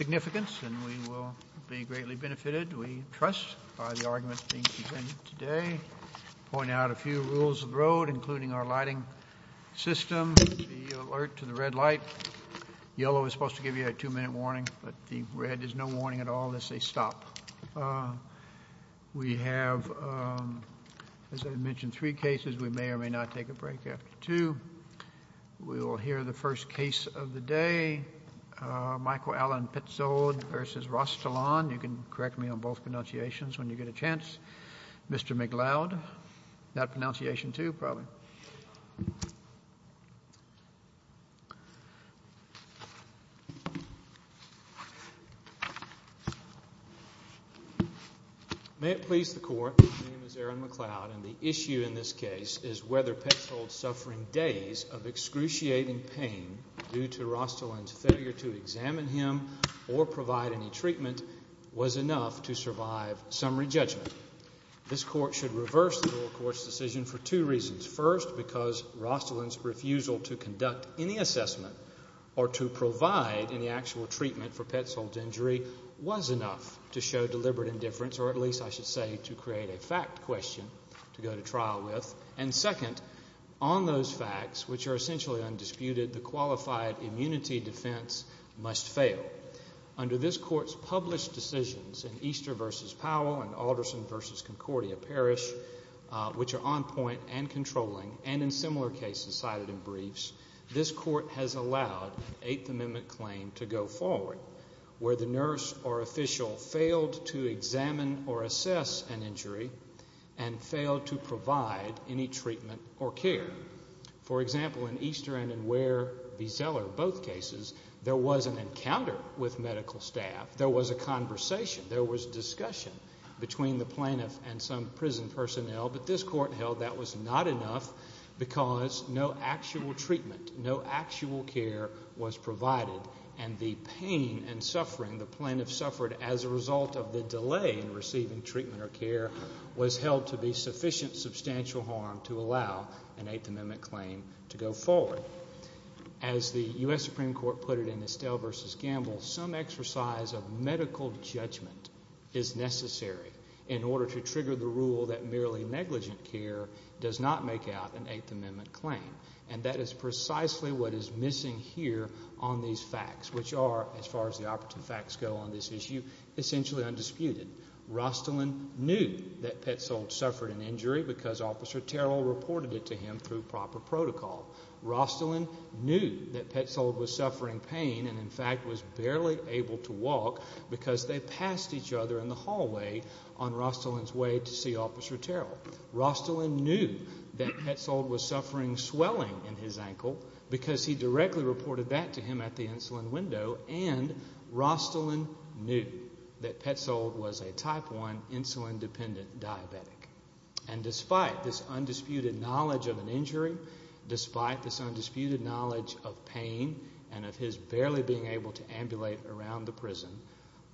Significance and we will be greatly benefited we trust by the arguments being presented today Point out a few rules of the road including our lighting system alert to the red light Yellow is supposed to give you a two-minute warning, but the red is no warning at all this they stop We have As I mentioned three cases we may or may not take a break after two We will hear the first case of the day Michael Allen Pitts old versus Rostell on you can correct me on both pronunciations when you get a chance Mr. McLeod that pronunciation to probably May it please the court McLeod and the issue in this case is whether petrol suffering days of excruciating pain Due to Rostell and failure to examine him or provide any treatment was enough to survive summary judgment This court should reverse the court's decision for two reasons first because Rostell and refusal to conduct any assessment or To provide in the actual treatment for pet sold injury was enough to show deliberate indifference Or at least I should say to create a fact question to go to trial with and second on those facts Which are essentially undisputed the qualified immunity defense must fail Under this court's published decisions in Easter versus Powell and Alderson versus Concordia Parish Which are on point and controlling and in similar cases cited in briefs This court has allowed 8th Amendment claim to go forward where the nurse or official failed to examine or assess an injury and In Easter and in where the seller both cases there was an encounter with medical staff there was a Conversation there was discussion between the plaintiff and some prison personnel, but this court held that was not enough Because no actual treatment No actual care was provided and the pain and suffering the plaintiff suffered as a result of the delay in receiving treatment or care Was held to be sufficient substantial harm to allow an 8th Amendment claim to go forward as The US Supreme Court put it in Estelle versus Gamble some exercise of medical judgment is Necessary in order to trigger the rule that merely negligent care does not make out an 8th Amendment claim And that is precisely what is missing here on these facts Which are as far as the operative facts go on this issue essentially undisputed Rostelin knew that Petzold suffered an injury because officer Terrell reported it to him through proper protocol Rostelin knew that Petzold was suffering pain and in fact was barely able to walk Because they passed each other in the hallway on Rostelin's way to see officer Terrell Rostelin knew that Petzold was suffering swelling in his ankle because he directly reported that to him at the insulin window and Rostelin knew that Petzold was a type 1 insulin dependent diabetic and Despite this undisputed knowledge of an injury Despite this undisputed knowledge of pain and of his barely being able to ambulate around the prison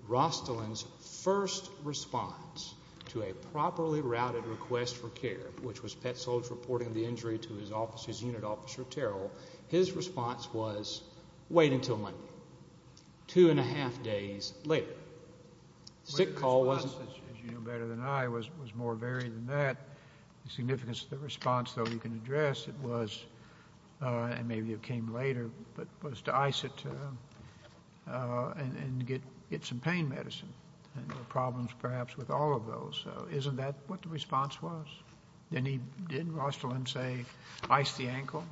Rostelin's first response to a properly routed request for care Which was Petzold reporting the injury to his office's unit officer Terrell his response was wait until Monday Two and a half days later Sick call wasn't as you know better than I was was more varied than that Significance of the response though you can address it was And maybe it came later, but was to ice it And get get some pain medicine and the problems perhaps with all of those So isn't that what the response was then he didn't Rostelin say ice the ankle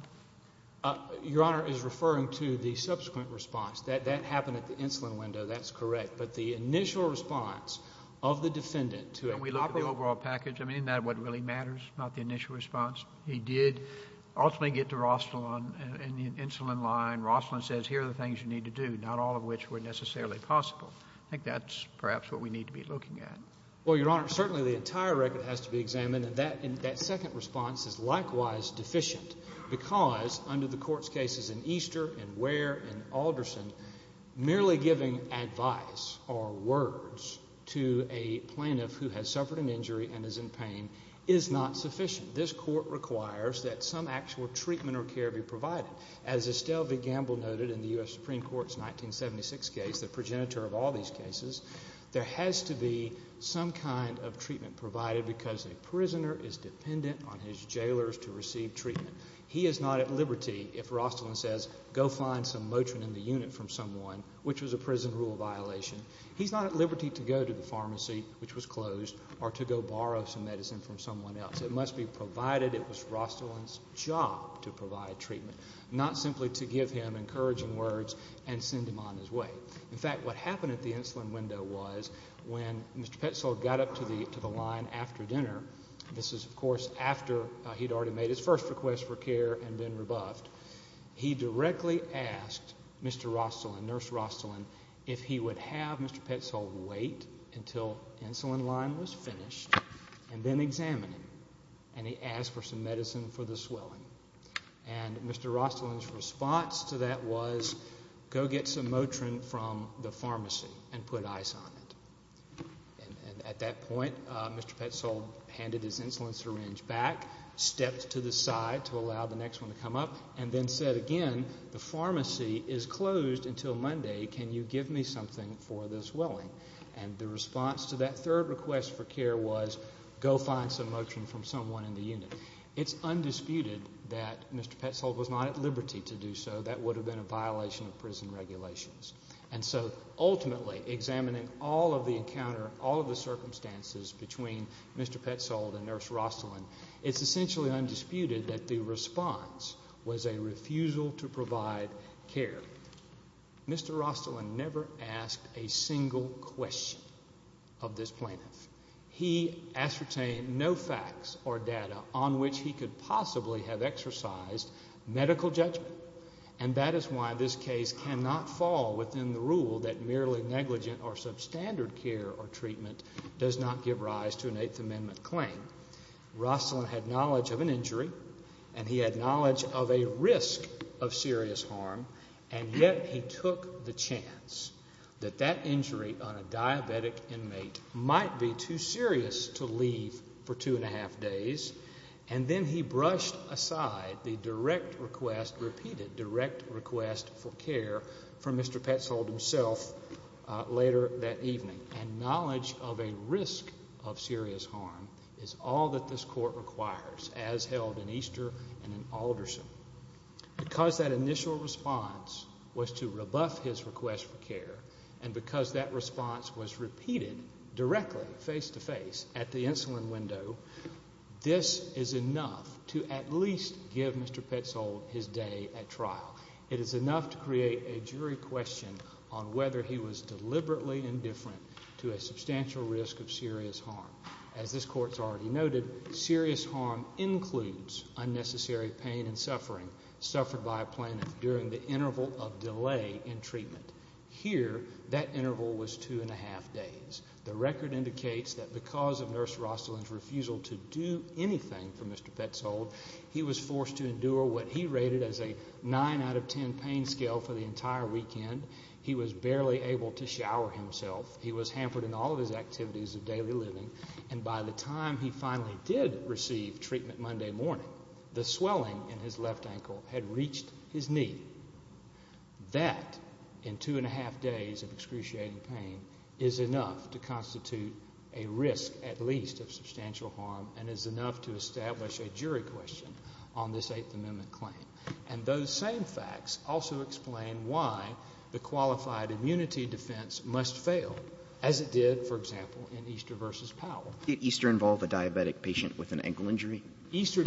Your honor is referring to the subsequent response that that happened at the insulin window, that's correct But the initial response of the defendant to it we love the overall package I mean that what really matters not the initial response He did ultimately get to Rostelin and the insulin line Rostelin says here are the things you need to do not all of which were Necessarily possible. I think that's perhaps what we need to be looking at well your honor certainly the entire record has to be examined That in that second response is likewise deficient because under the court's cases in Easter and where and Alderson merely giving advice or words to a Plaintiff who has suffered an injury and is in pain is not sufficient this court requires that some actual treatment or care be provided As Estelle V Gamble noted in the US Supreme Court's 1976 case the progenitor of all these cases There has to be some kind of treatment provided because a prisoner is dependent on his jailers to receive treatment He is not at liberty if Rostelin says go find some Motrin in the unit from someone which was a prison rule violation He's not at liberty to go to the pharmacy, which was closed or to go borrow some medicine from someone else It must be provided It was Rostelin's job to provide treatment not simply to give him encouraging words and send him on his way In fact what happened at the insulin window was when mr. Petzold got up to the to the line after dinner This is of course after he'd already made his first request for care and been rebuffed He directly asked mr. Rostelin nurse Rostelin if he would have mr. Petzold wait until insulin line was finished and then examine him and he asked for some medicine for the swelling and The pharmacy and put ice on it At that point mr. Petzold handed his insulin syringe back Steps to the side to allow the next one to come up and then said again the pharmacy is closed until Monday Can you give me something for this welling and the response to that third request for care was? Go find some motion from someone in the unit. It's undisputed that mr. Petzold was not at liberty to do so that would have been a violation of prison regulations and so Ultimately examining all of the encounter all of the circumstances between mr. Petzold and nurse Rostelin it's essentially undisputed that the response was a refusal to provide care Mr. Rostelin never asked a single question of this plaintiff He ascertained no facts or data on which he could possibly have exercised medical judgment And that is why this case cannot fall within the rule that merely negligent or substandard Care or treatment does not give rise to an Eighth Amendment claim Rostelin had knowledge of an injury and he had knowledge of a risk of serious harm and yet he took the chance That that injury on a diabetic inmate might be too serious to leave for two and a half days and Then he brushed aside the direct request repeated direct request for care from mr. Petzold himself Later that evening and knowledge of a risk of serious harm is all that this court requires as held in Easter and in Alderson Because that initial response was to rebuff his request for care and because that response was repeated Directly face to face at the insulin window This is enough to at least give mr. Petzold his day at trial it is enough to create a jury question on whether he was Deliberately indifferent to a substantial risk of serious harm as this courts already noted serious harm Includes unnecessary pain and suffering suffered by a planet during the interval of delay in treatment Here that interval was two and a half days the record indicates that because of nurse Rostelin's refusal to do anything For mr. Petzold he was forced to endure what he rated as a nine out of ten pain scale for the entire weekend He was barely able to shower himself He was hampered in all of his activities of daily living and by the time he finally did receive treatment Monday morning The swelling in his left ankle had reached his knee that in two and a half days of excruciating pain is Enough to constitute a risk at least of substantial harm and is enough to establish a jury question on this Eighth Amendment claim and those same facts also explain The qualified immunity defense must fail as it did for example in Easter versus Powell Did Easter involve a diabetic patient with an ankle injury? Easter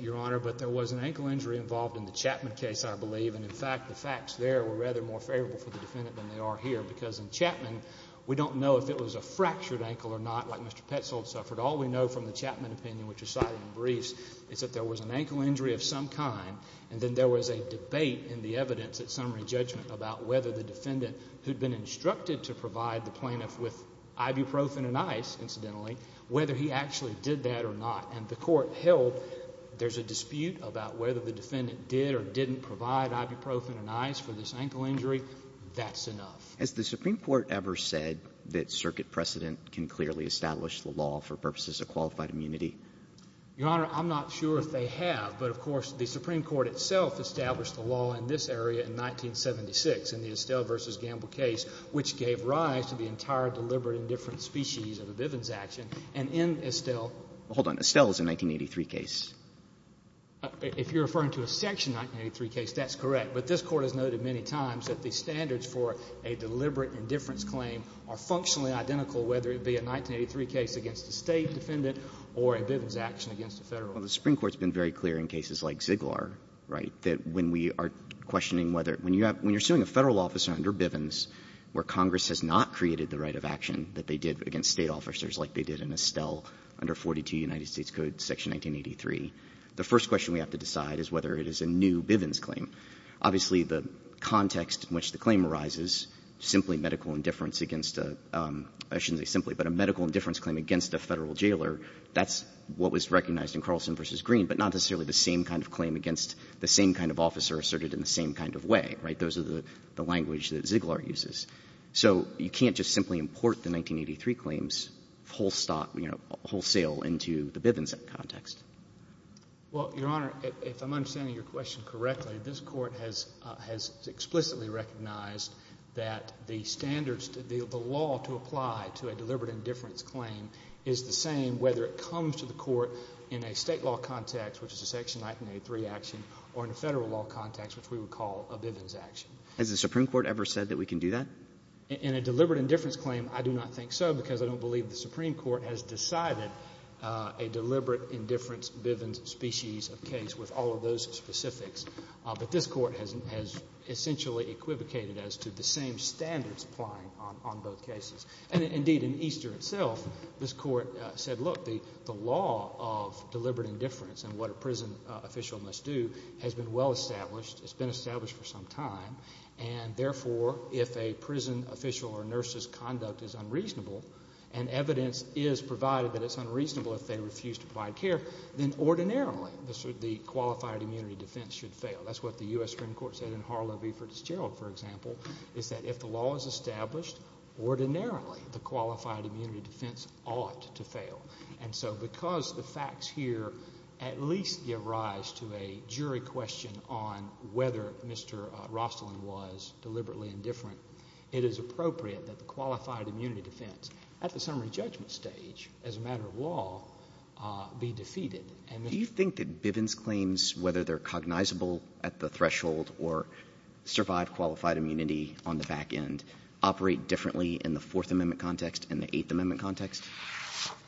Your honor, but there was an ankle injury involved in the Chapman case I believe and in fact the facts there were rather more favorable for the defendant than they are here because in Chapman We don't know if it was a fractured ankle or not Like mr. Petzold suffered all we know from the Chapman opinion which is cited in briefs It's that there was an ankle injury of some kind and then there was a debate in the evidence at summary judgment about whether the Defendant who'd been instructed to provide the plaintiff with ibuprofen and ice incidentally whether he actually did that or not And the court held there's a dispute about whether the defendant did or didn't provide Ibuprofen and ice for this ankle injury That's enough as the Supreme Court ever said that circuit precedent can clearly establish the law for purposes of qualified immunity Your honor, I'm not sure if they have but of course the Supreme Court itself established the law in this area in 1976 in the Estelle versus Gamble case Which gave rise to the entire deliberate indifference species of the Bivens action and in Estelle hold on Estelle's in 1983 case If you're referring to a section 1983 case, that's correct But this court has noted many times that the standards for a deliberate indifference claim are The Supreme Court's been very clear in cases like Ziggler Right that when we are questioning whether when you have when you're suing a federal officer under Bivens Where Congress has not created the right of action that they did against state officers like they did in Estelle Under 42 United States Code section 1983. The first question we have to decide is whether it is a new Bivens claim obviously the context in which the claim arises simply medical indifference against a Simply but a medical indifference claim against a federal jailer That's what was recognized in Carlson versus Green but not necessarily the same kind of claim against the same kind of officer asserted in the same Kind of way, right? Those are the the language that Ziggler uses so you can't just simply import the 1983 claims Full-stop, you know wholesale into the Bivens context Well, your honor if I'm understanding your question correctly, this court has has explicitly recognized That the standards to deal the law to apply to a deliberate indifference claim is the same whether it comes to the court In a state law context, which is a section 1983 action or in a federal law context Which we would call a Bivens action as the Supreme Court ever said that we can do that in a deliberate indifference claim I do not think so because I don't believe the Supreme Court has decided a deliberate indifference Bivens species of case with all of those specifics, but this court hasn't has Essentially equivocated as to the same standards applying on both cases and indeed in Easter itself This court said look the the law of deliberate indifference and what a prison Official must do has been well established. It's been established for some time and therefore if a prison official or nurses conduct is unreasonable and Evidence is provided that it's unreasonable if they refuse to provide care then ordinarily the qualified immunity defense should fail That's what the US Supreme Court said in Harlow v. Ferdinand, for example, is that if the law is established Ordinarily the qualified immunity defense ought to fail and so because the facts here at least give rise to a jury Question on whether mr. Rostlin was deliberately indifferent It is appropriate that the qualified immunity defense at the summary judgment stage as a matter of law Be defeated and do you think that Bivens claims whether they're cognizable at the threshold or Survive qualified immunity on the back end operate differently in the Fourth Amendment context and the Eighth Amendment context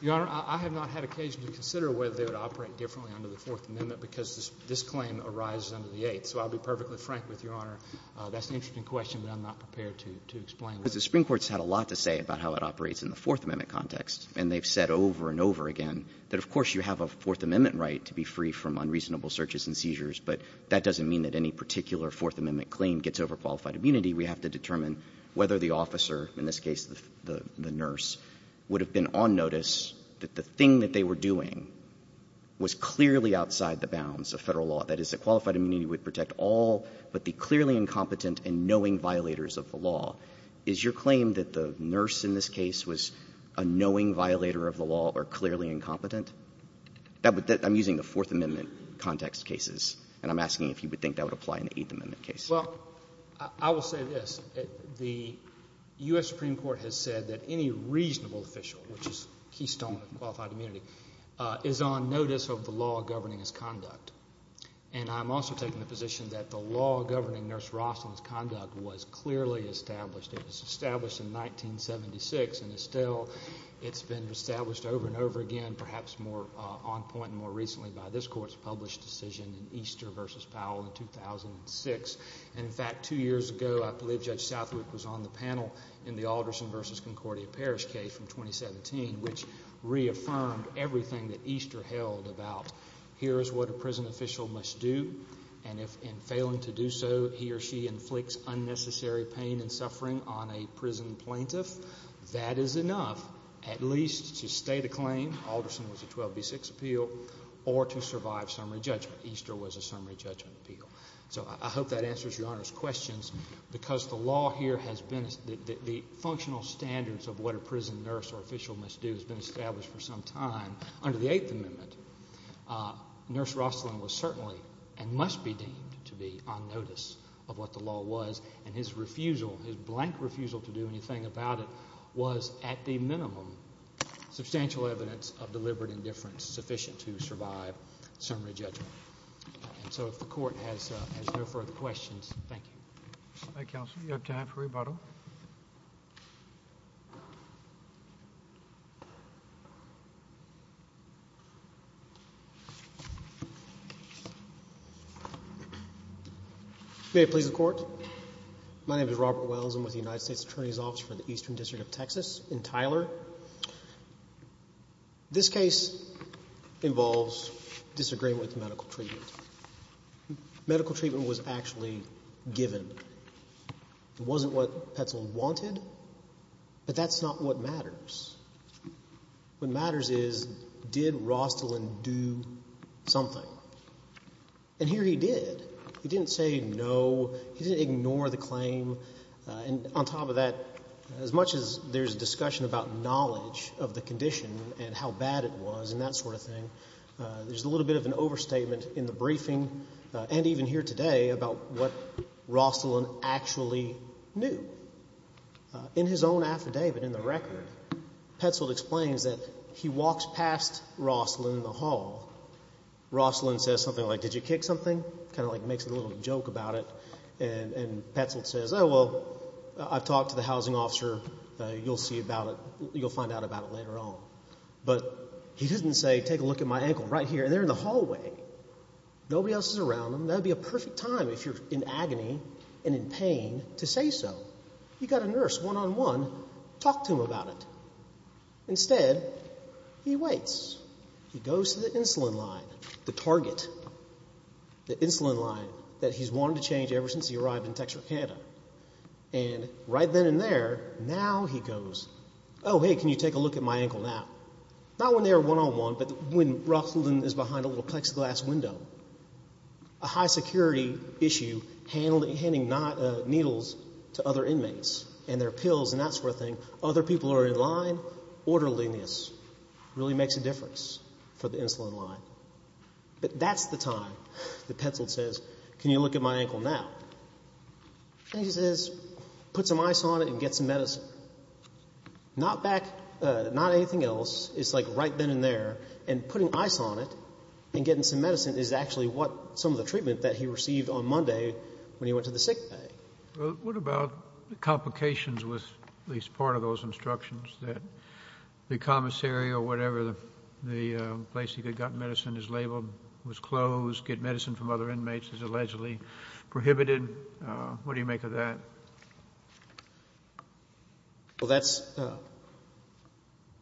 Your honor. I have not had occasion to consider whether they would operate differently under the Fourth Amendment because this claim arises under the eighth So I'll be perfectly frank with your honor That's the interesting question But I'm not prepared to to explain because the Supreme Court's had a lot to say about how it operates in the Fourth Amendment Context and they've said over and over again that of course you have a Fourth Amendment right to be free from unreasonable searches and seizures But that doesn't mean that any particular Fourth Amendment claim gets over qualified immunity We have to determine whether the officer in this case the the nurse would have been on notice that the thing that they were doing Was clearly outside the bounds of federal law that is a qualified immunity would protect all But the clearly incompetent and knowing violators of the law is your claim that the nurse in this case was a Knowing violator of the law or clearly incompetent That would that I'm using the Fourth Amendment Context cases and I'm asking if you would think that would apply in the Eighth Amendment case. Well, I will say this the US Supreme Court has said that any reasonable official which is keystone Is on notice of the law governing his conduct And I'm also taking the position that the law governing nurse Roslyn's conduct was clearly established. It was established in 1976 and it's still it's been established over and over again Perhaps more on point and more recently by this court's published decision in Easter versus Powell in 2006 and in fact two years ago I believe Judge Southwick was on the panel in the Alderson versus Concordia Parish case from 2017 which Reaffirmed everything that Easter held about here is what a prison official must do and if in failing to do So he or she inflicts unnecessary pain and suffering on a prison plaintiff That is enough at least to stay the claim Alderson was a 12b6 appeal or to survive summary judgment Easter was a summary judgment appeal So I hope that answers your honor's questions Because the law here has been as the Functional standards of what a prison nurse or official must do has been established for some time under the Eighth Amendment Nurse Roslyn was certainly and must be deemed to be on notice of what the law was and his refusal his blank Refusal to do anything about it was at the minimum substantial evidence of deliberate indifference sufficient to survive summary judgment And so if the court has no further questions, thank you Counsel you have time for rebuttal May it please the court. My name is Robert Wells. I'm with the United States Attorney's Office for the Eastern District of Texas in Tyler This case involves disagreement with medical treatment Medical treatment was actually given It wasn't what Petzl wanted But that's not what matters What matters is did Roslyn do? something and Here he did he didn't say no. He didn't ignore the claim And on top of that as much as there's a discussion about knowledge of the condition and how bad it was and that sort And even here today about what Roslyn actually knew In his own affidavit in the record Petzl explains that he walks past Roslyn in the hall Roslyn says something like did you kick something kind of like makes it a little joke about it and Petzl says oh, well, I've talked to the housing officer. You'll see about it You'll find out about it later on but he didn't say take a look at my ankle right here and there in the hallway Nobody else is around them That'd be a perfect time if you're in agony and in pain to say so you got a nurse one-on-one Talk to him about it instead He waits he goes to the insulin line the target the insulin line that he's wanted to change ever since he arrived in Texarkana and Right then and there now he goes. Oh, hey, can you take a look at my ankle now? Not when they are one-on-one but when Roslyn is behind a little plexiglass window a high security issue Handling handing not needles to other inmates and their pills and that sort of thing. Other people are in line orderliness Really makes a difference for the insulin line But that's the time that Petzl says. Can you look at my ankle now? And he says put some ice on it and get some medicine Not back not anything else It's like right then and there and putting ice on it and getting some medicine is actually what some of the treatment that he received On Monday when he went to the sick bay What about the complications with at least part of those instructions that? The commissary or whatever the the place he could got medicine is labeled was closed get medicine from other inmates is allegedly Prohibited. What do you make of that? That's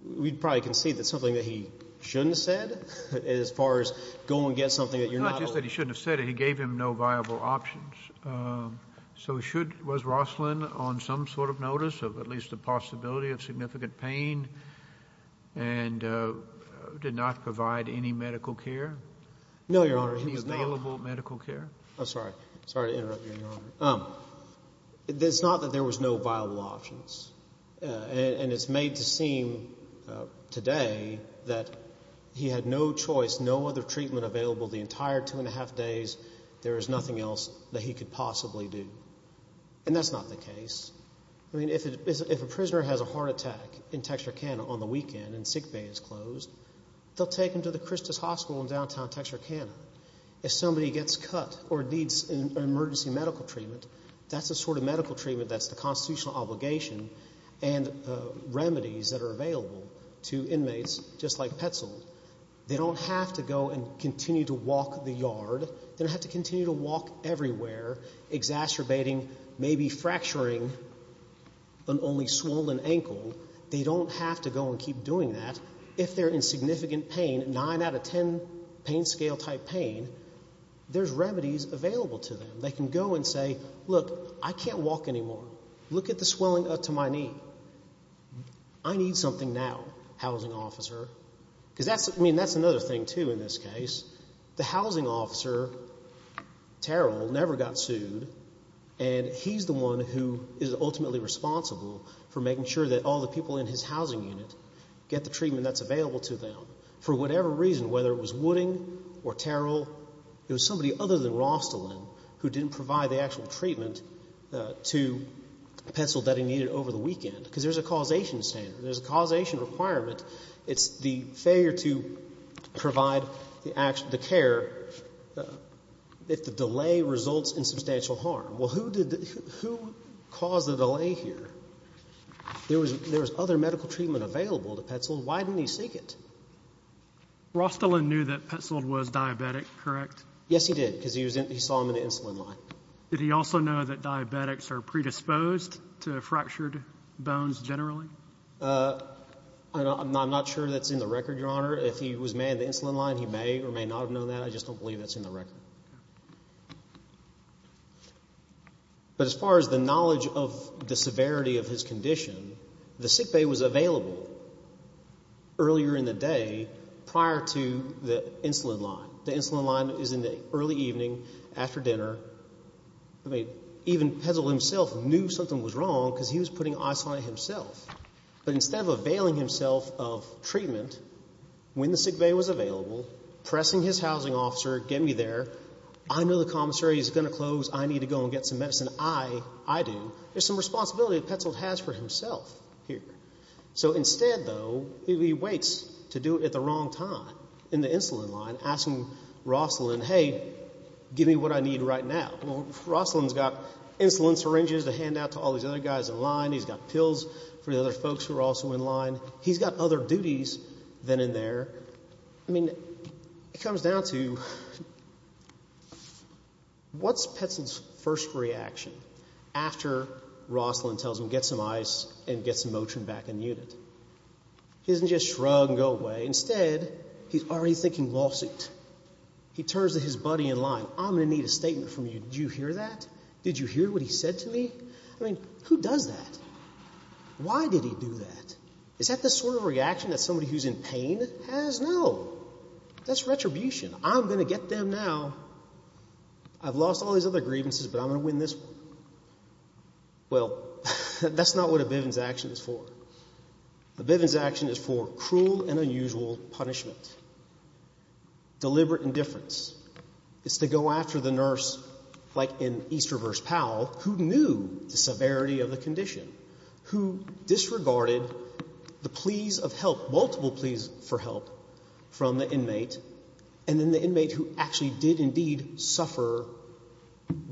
We'd probably can see that's something that he shouldn't have said as far as go and get something that you're not Just that he shouldn't have said he gave him no viable options so should was Roslyn on some sort of notice of at least the possibility of significant pain and Did not provide any medical care no, your honor. He's available medical care. I'm sorry. Sorry to interrupt you It's not that there was no viable options and it's made to seem Today that he had no choice. No other treatment available the entire two and a half days There is nothing else that he could possibly do and that's not the case I mean if it is if a prisoner has a heart attack in texture Canada on the weekend and sick Bay is closed They'll take him to the Christus Hospital in downtown texture Canada If somebody gets cut or needs an emergency medical treatment, that's the sort of medical treatment that's the constitutional obligation and Remedies that are available to inmates just like petzl They don't have to go and continue to walk the yard. They don't have to continue to walk everywhere exacerbating maybe fracturing But only swollen ankle they don't have to go and keep doing that if they're in significant pain nine out of ten pain scale type pain There's remedies available to them. They can go and say look I can't walk anymore. Look at the swelling up to my knee. I Need something now housing officer because that's I mean, that's another thing too in this case the housing officer Terrell never got sued and He's the one who is ultimately responsible for making sure that all the people in his housing unit get the treatment That's available to them for whatever reason whether it was wooding or Terrell It was somebody other than Rostelin who didn't provide the actual treatment to Pencil that he needed over the weekend because there's a causation standard. There's a causation requirement. It's the failure to provide the action to care If the delay results in substantial harm, well, who did who caused the delay here? There was there was other medical treatment available to pencil, why didn't he seek it? Rostelin knew that penciled was diabetic, correct? Yes, he did because he was in he saw him in the insulin line Did he also know that diabetics are predisposed to fractured bones generally? I'm not sure that's in the record your honor if he was made the insulin line He may or may not have known that I just don't believe that's in the record But As far as the knowledge of the severity of his condition the sick bay was available Earlier in the day prior to the insulin line. The insulin line is in the early evening after dinner. I Mean even pencil himself knew something was wrong because he was putting ice on himself but instead of availing himself of treatment When the sick bay was available Pressing his housing officer get me there. I know the commissary is gonna close I need to go and get some medicine. I I do there's some responsibility that penciled has for himself here So instead though, he waits to do it at the wrong time in the insulin line asking Roslyn hey Give me what I need right now. Well Roslyn's got insulin syringes to hand out to all these other guys in line For the other folks who are also in line, he's got other duties than in there. I mean it comes down to What's pencil's first reaction after Roslyn tells him get some ice and get some motion back in unit He doesn't just shrug and go away instead. He's already thinking lawsuit He turns to his buddy in line. I'm gonna need a statement from you. Did you hear that? Did you hear what he said to me? I mean who does that? Why did he do that? Is that the sort of reaction that somebody who's in pain has no That's retribution. I'm gonna get them now I've lost all these other grievances, but I'm gonna win this Well, that's not what a Bivens action is for the Bivens action is for cruel and unusual punishment Deliberate indifference It's to go after the nurse like in Easter verse Powell who knew the severity of the condition who? disregarded the pleas of help multiple pleas for help from the inmate and then the inmate who actually did indeed suffer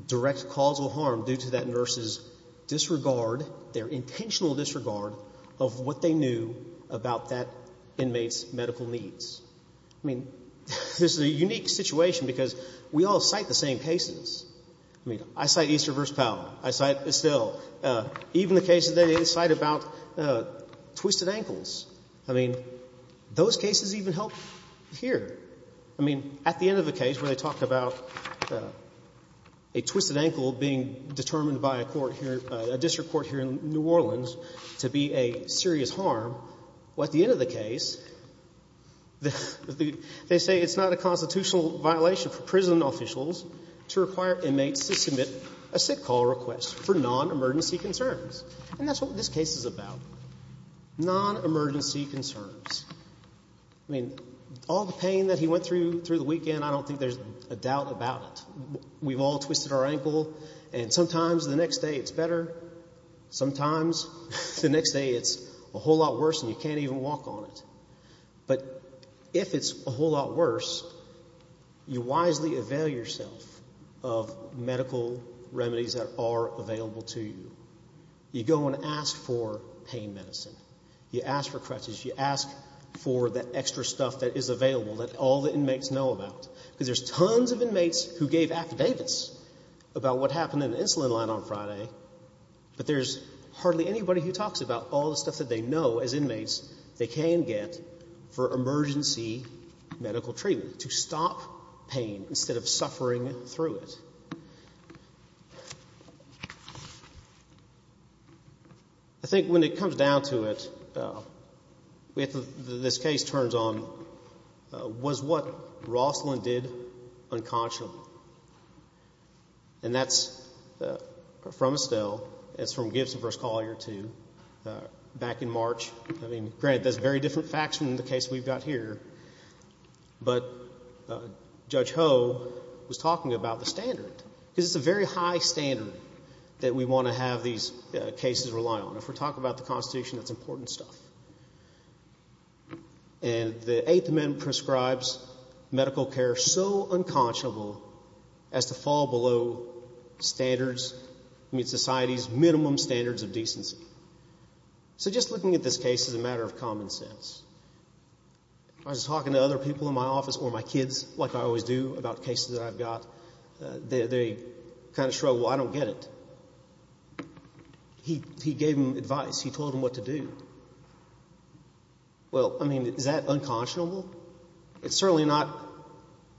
direct causal harm due to that nurses Disregard their intentional disregard of what they knew about that inmates medical needs I mean, this is a unique situation because we all cite the same cases. I mean, I cite Easter verse Powell. I cite Estelle even the cases they didn't cite about Twisted ankles. I mean those cases even help here. I mean at the end of the case where they talked about a Twisted ankle being determined by a court here a district court here in New Orleans to be a serious harm Well at the end of the case The they say it's not a constitutional violation for prison officials to require inmates to submit a sick call request For non-emergency concerns, and that's what this case is about Non-emergency concerns I Mean all the pain that he went through through the weekend. I don't think there's a doubt about it We've all twisted our ankle and sometimes the next day. It's better Sometimes the next day it's a whole lot worse and you can't even walk on it But if it's a whole lot worse you wisely avail yourself of Medical remedies that are available to you You go and ask for pain medicine You ask for crutches you ask for the extra stuff that is available that all the inmates know about Because there's tons of inmates who gave affidavits about what happened in an insulin line on Friday But there's hardly anybody who talks about all the stuff that they know as inmates they can get for emergency Medical treatment to stop pain instead of suffering through it. I Think when it comes down to it With this case turns on Was what Rosslyn did? unconsciously and that's From Estelle it's from Gibson vs. Collier to Back in March. I mean great. That's very different facts from the case. We've got here but Judge Ho was talking about the standard because it's a very high standard that we want to have these Cases rely on if we're talking about the Constitution, that's important stuff and the Eighth Amendment prescribes medical care so unconscionable as to fall below Standards meet society's minimum standards of decency So just looking at this case as a matter of common sense I was talking to other people in my office or my kids like I always do about cases that I've got They kind of show. Well, I don't get it He gave him advice he told him what to do Well, I mean is that unconscionable It's certainly not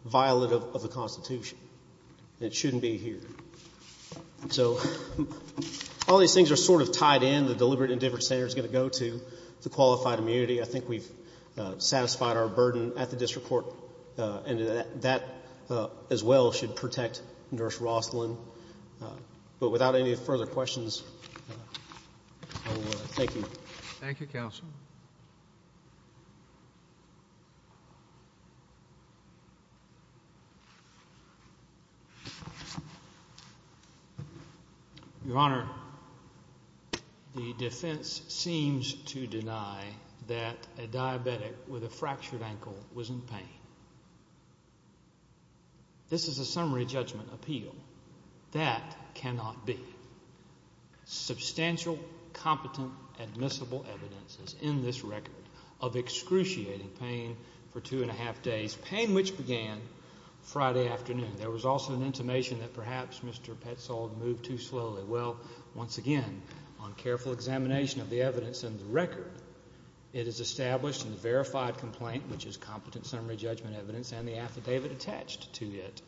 Violative of the Constitution it shouldn't be here so All these things are sort of tied in the deliberate and different center is going to go to the qualified immunity. I think we've Satisfied our burden at the district court and that that as well should protect nurse Rosslyn But without any further questions Thank you, thank you counsel You Your honor The defense seems to deny that a diabetic with a fractured ankle was in pain This is a summary judgment appeal that cannot be Substantial competent admissible evidence is in this record of Friday afternoon there was also an intimation that perhaps mr. Petzold moved too slowly well once again on careful examination of the evidence and the record It is established in the verified complaint, which is competent summary judgment evidence and the affidavit attached to it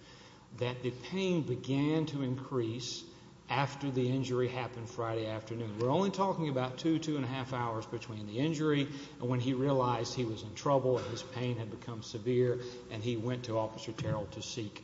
That the pain began to increase After the injury happened Friday afternoon We're only talking about two two and a half hours between the injury and when he realized he was in trouble His pain had become severe and he went to officer Terrell to seek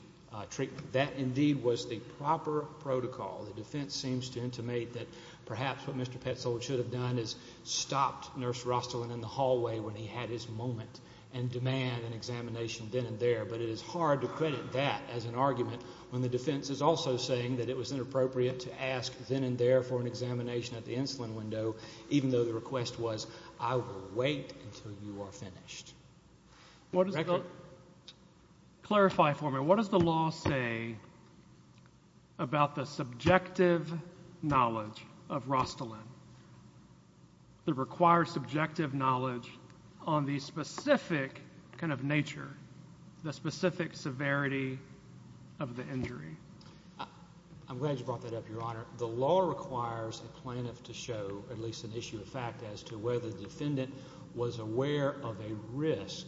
Treatment that indeed was the proper protocol the defense seems to intimate that perhaps what mr Petzold should have done is stopped nurse Rosslyn in the hallway when he had his moment and Demand an examination then and there but it is hard to credit that as an argument when the defense is also saying that it was Inappropriate to ask then and there for an examination at the insulin window, even though the request was I will wait until you are finished What is it? Clarify for me. What does the law say? About the subjective knowledge of Rostelin The required subjective knowledge on the specific kind of nature the specific severity of the injury I'm glad you brought that up your honor The law requires a plaintiff to show at least an issue of fact as to whether the defendant was aware of a risk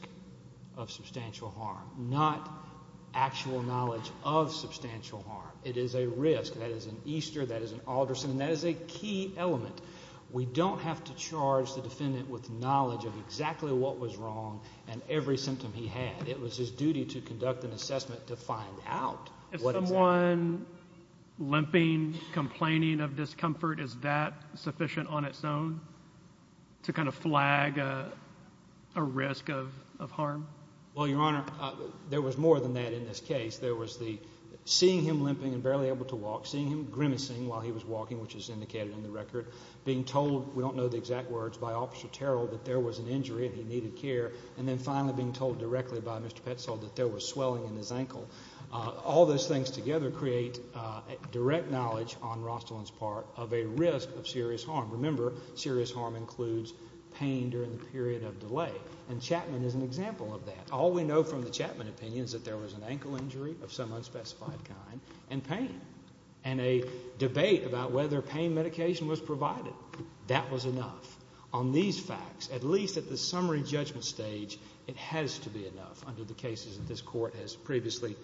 of substantial harm not Actual knowledge of substantial harm. It is a risk. That is an Easter. That is an Alderson. That is a key element We don't have to charge the defendant with knowledge of exactly what was wrong and every symptom he had It was his duty to conduct an assessment to find out if someone Limping complaining of discomfort is that sufficient on its own? to kind of flag a Risk of harm. Well, your honor. There was more than that in this case There was the seeing him limping and barely able to walk seeing him grimacing while he was walking which is indicated in the record Being told we don't know the exact words by officer Terrell that there was an injury and he needed care and then finally being told Directly by mr. Petzold that there was swelling in his ankle all those things together create Direct knowledge on Rostelin's part of a risk of serious harm Remember serious harm includes pain during the period of delay and Chapman is an example of that all we know from the Chapman opinions that there was an ankle injury of some unspecified kind and pain and a Debate about whether pain medication was provided that was enough on these facts at least at the summary judgment stage It has to be enough under the cases that this court has previously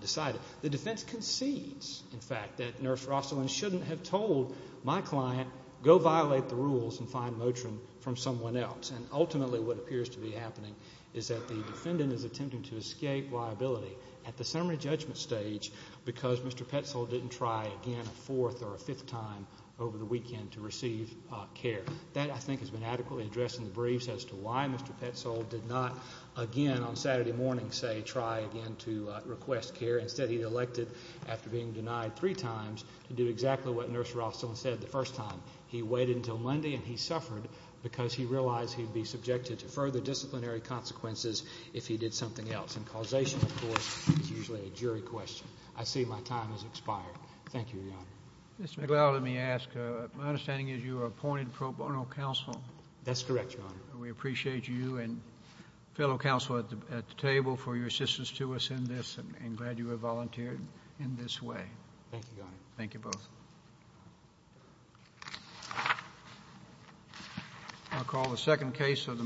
Decided the defense concedes in fact that nurse Rostelin shouldn't have told my client go violate the rules and find Motrin from someone else and ultimately what appears to be happening is that the Defendant is attempting to escape liability at the summary judgment stage because mr Petzold didn't try again a fourth or a fifth time over the weekend to receive Care that I think has been adequately addressed in the briefs as to why mr Petzold did not again on Saturday morning say try again to request care instead He elected after being denied three times to do exactly what nurse Rostelin said the first time he waited until Monday and he suffered Because he realized he'd be subjected to further disciplinary consequences if he did something else and causation Of course, it's usually a jury question. I see my time has expired. Thank you Yeah, mr. McLeod. Let me ask my understanding is you are appointed pro bono counsel. That's correct we appreciate you and Fellow counsel at the table for your assistance to us in this and glad you were volunteered in this way Thank you both I'll call the second case of the morning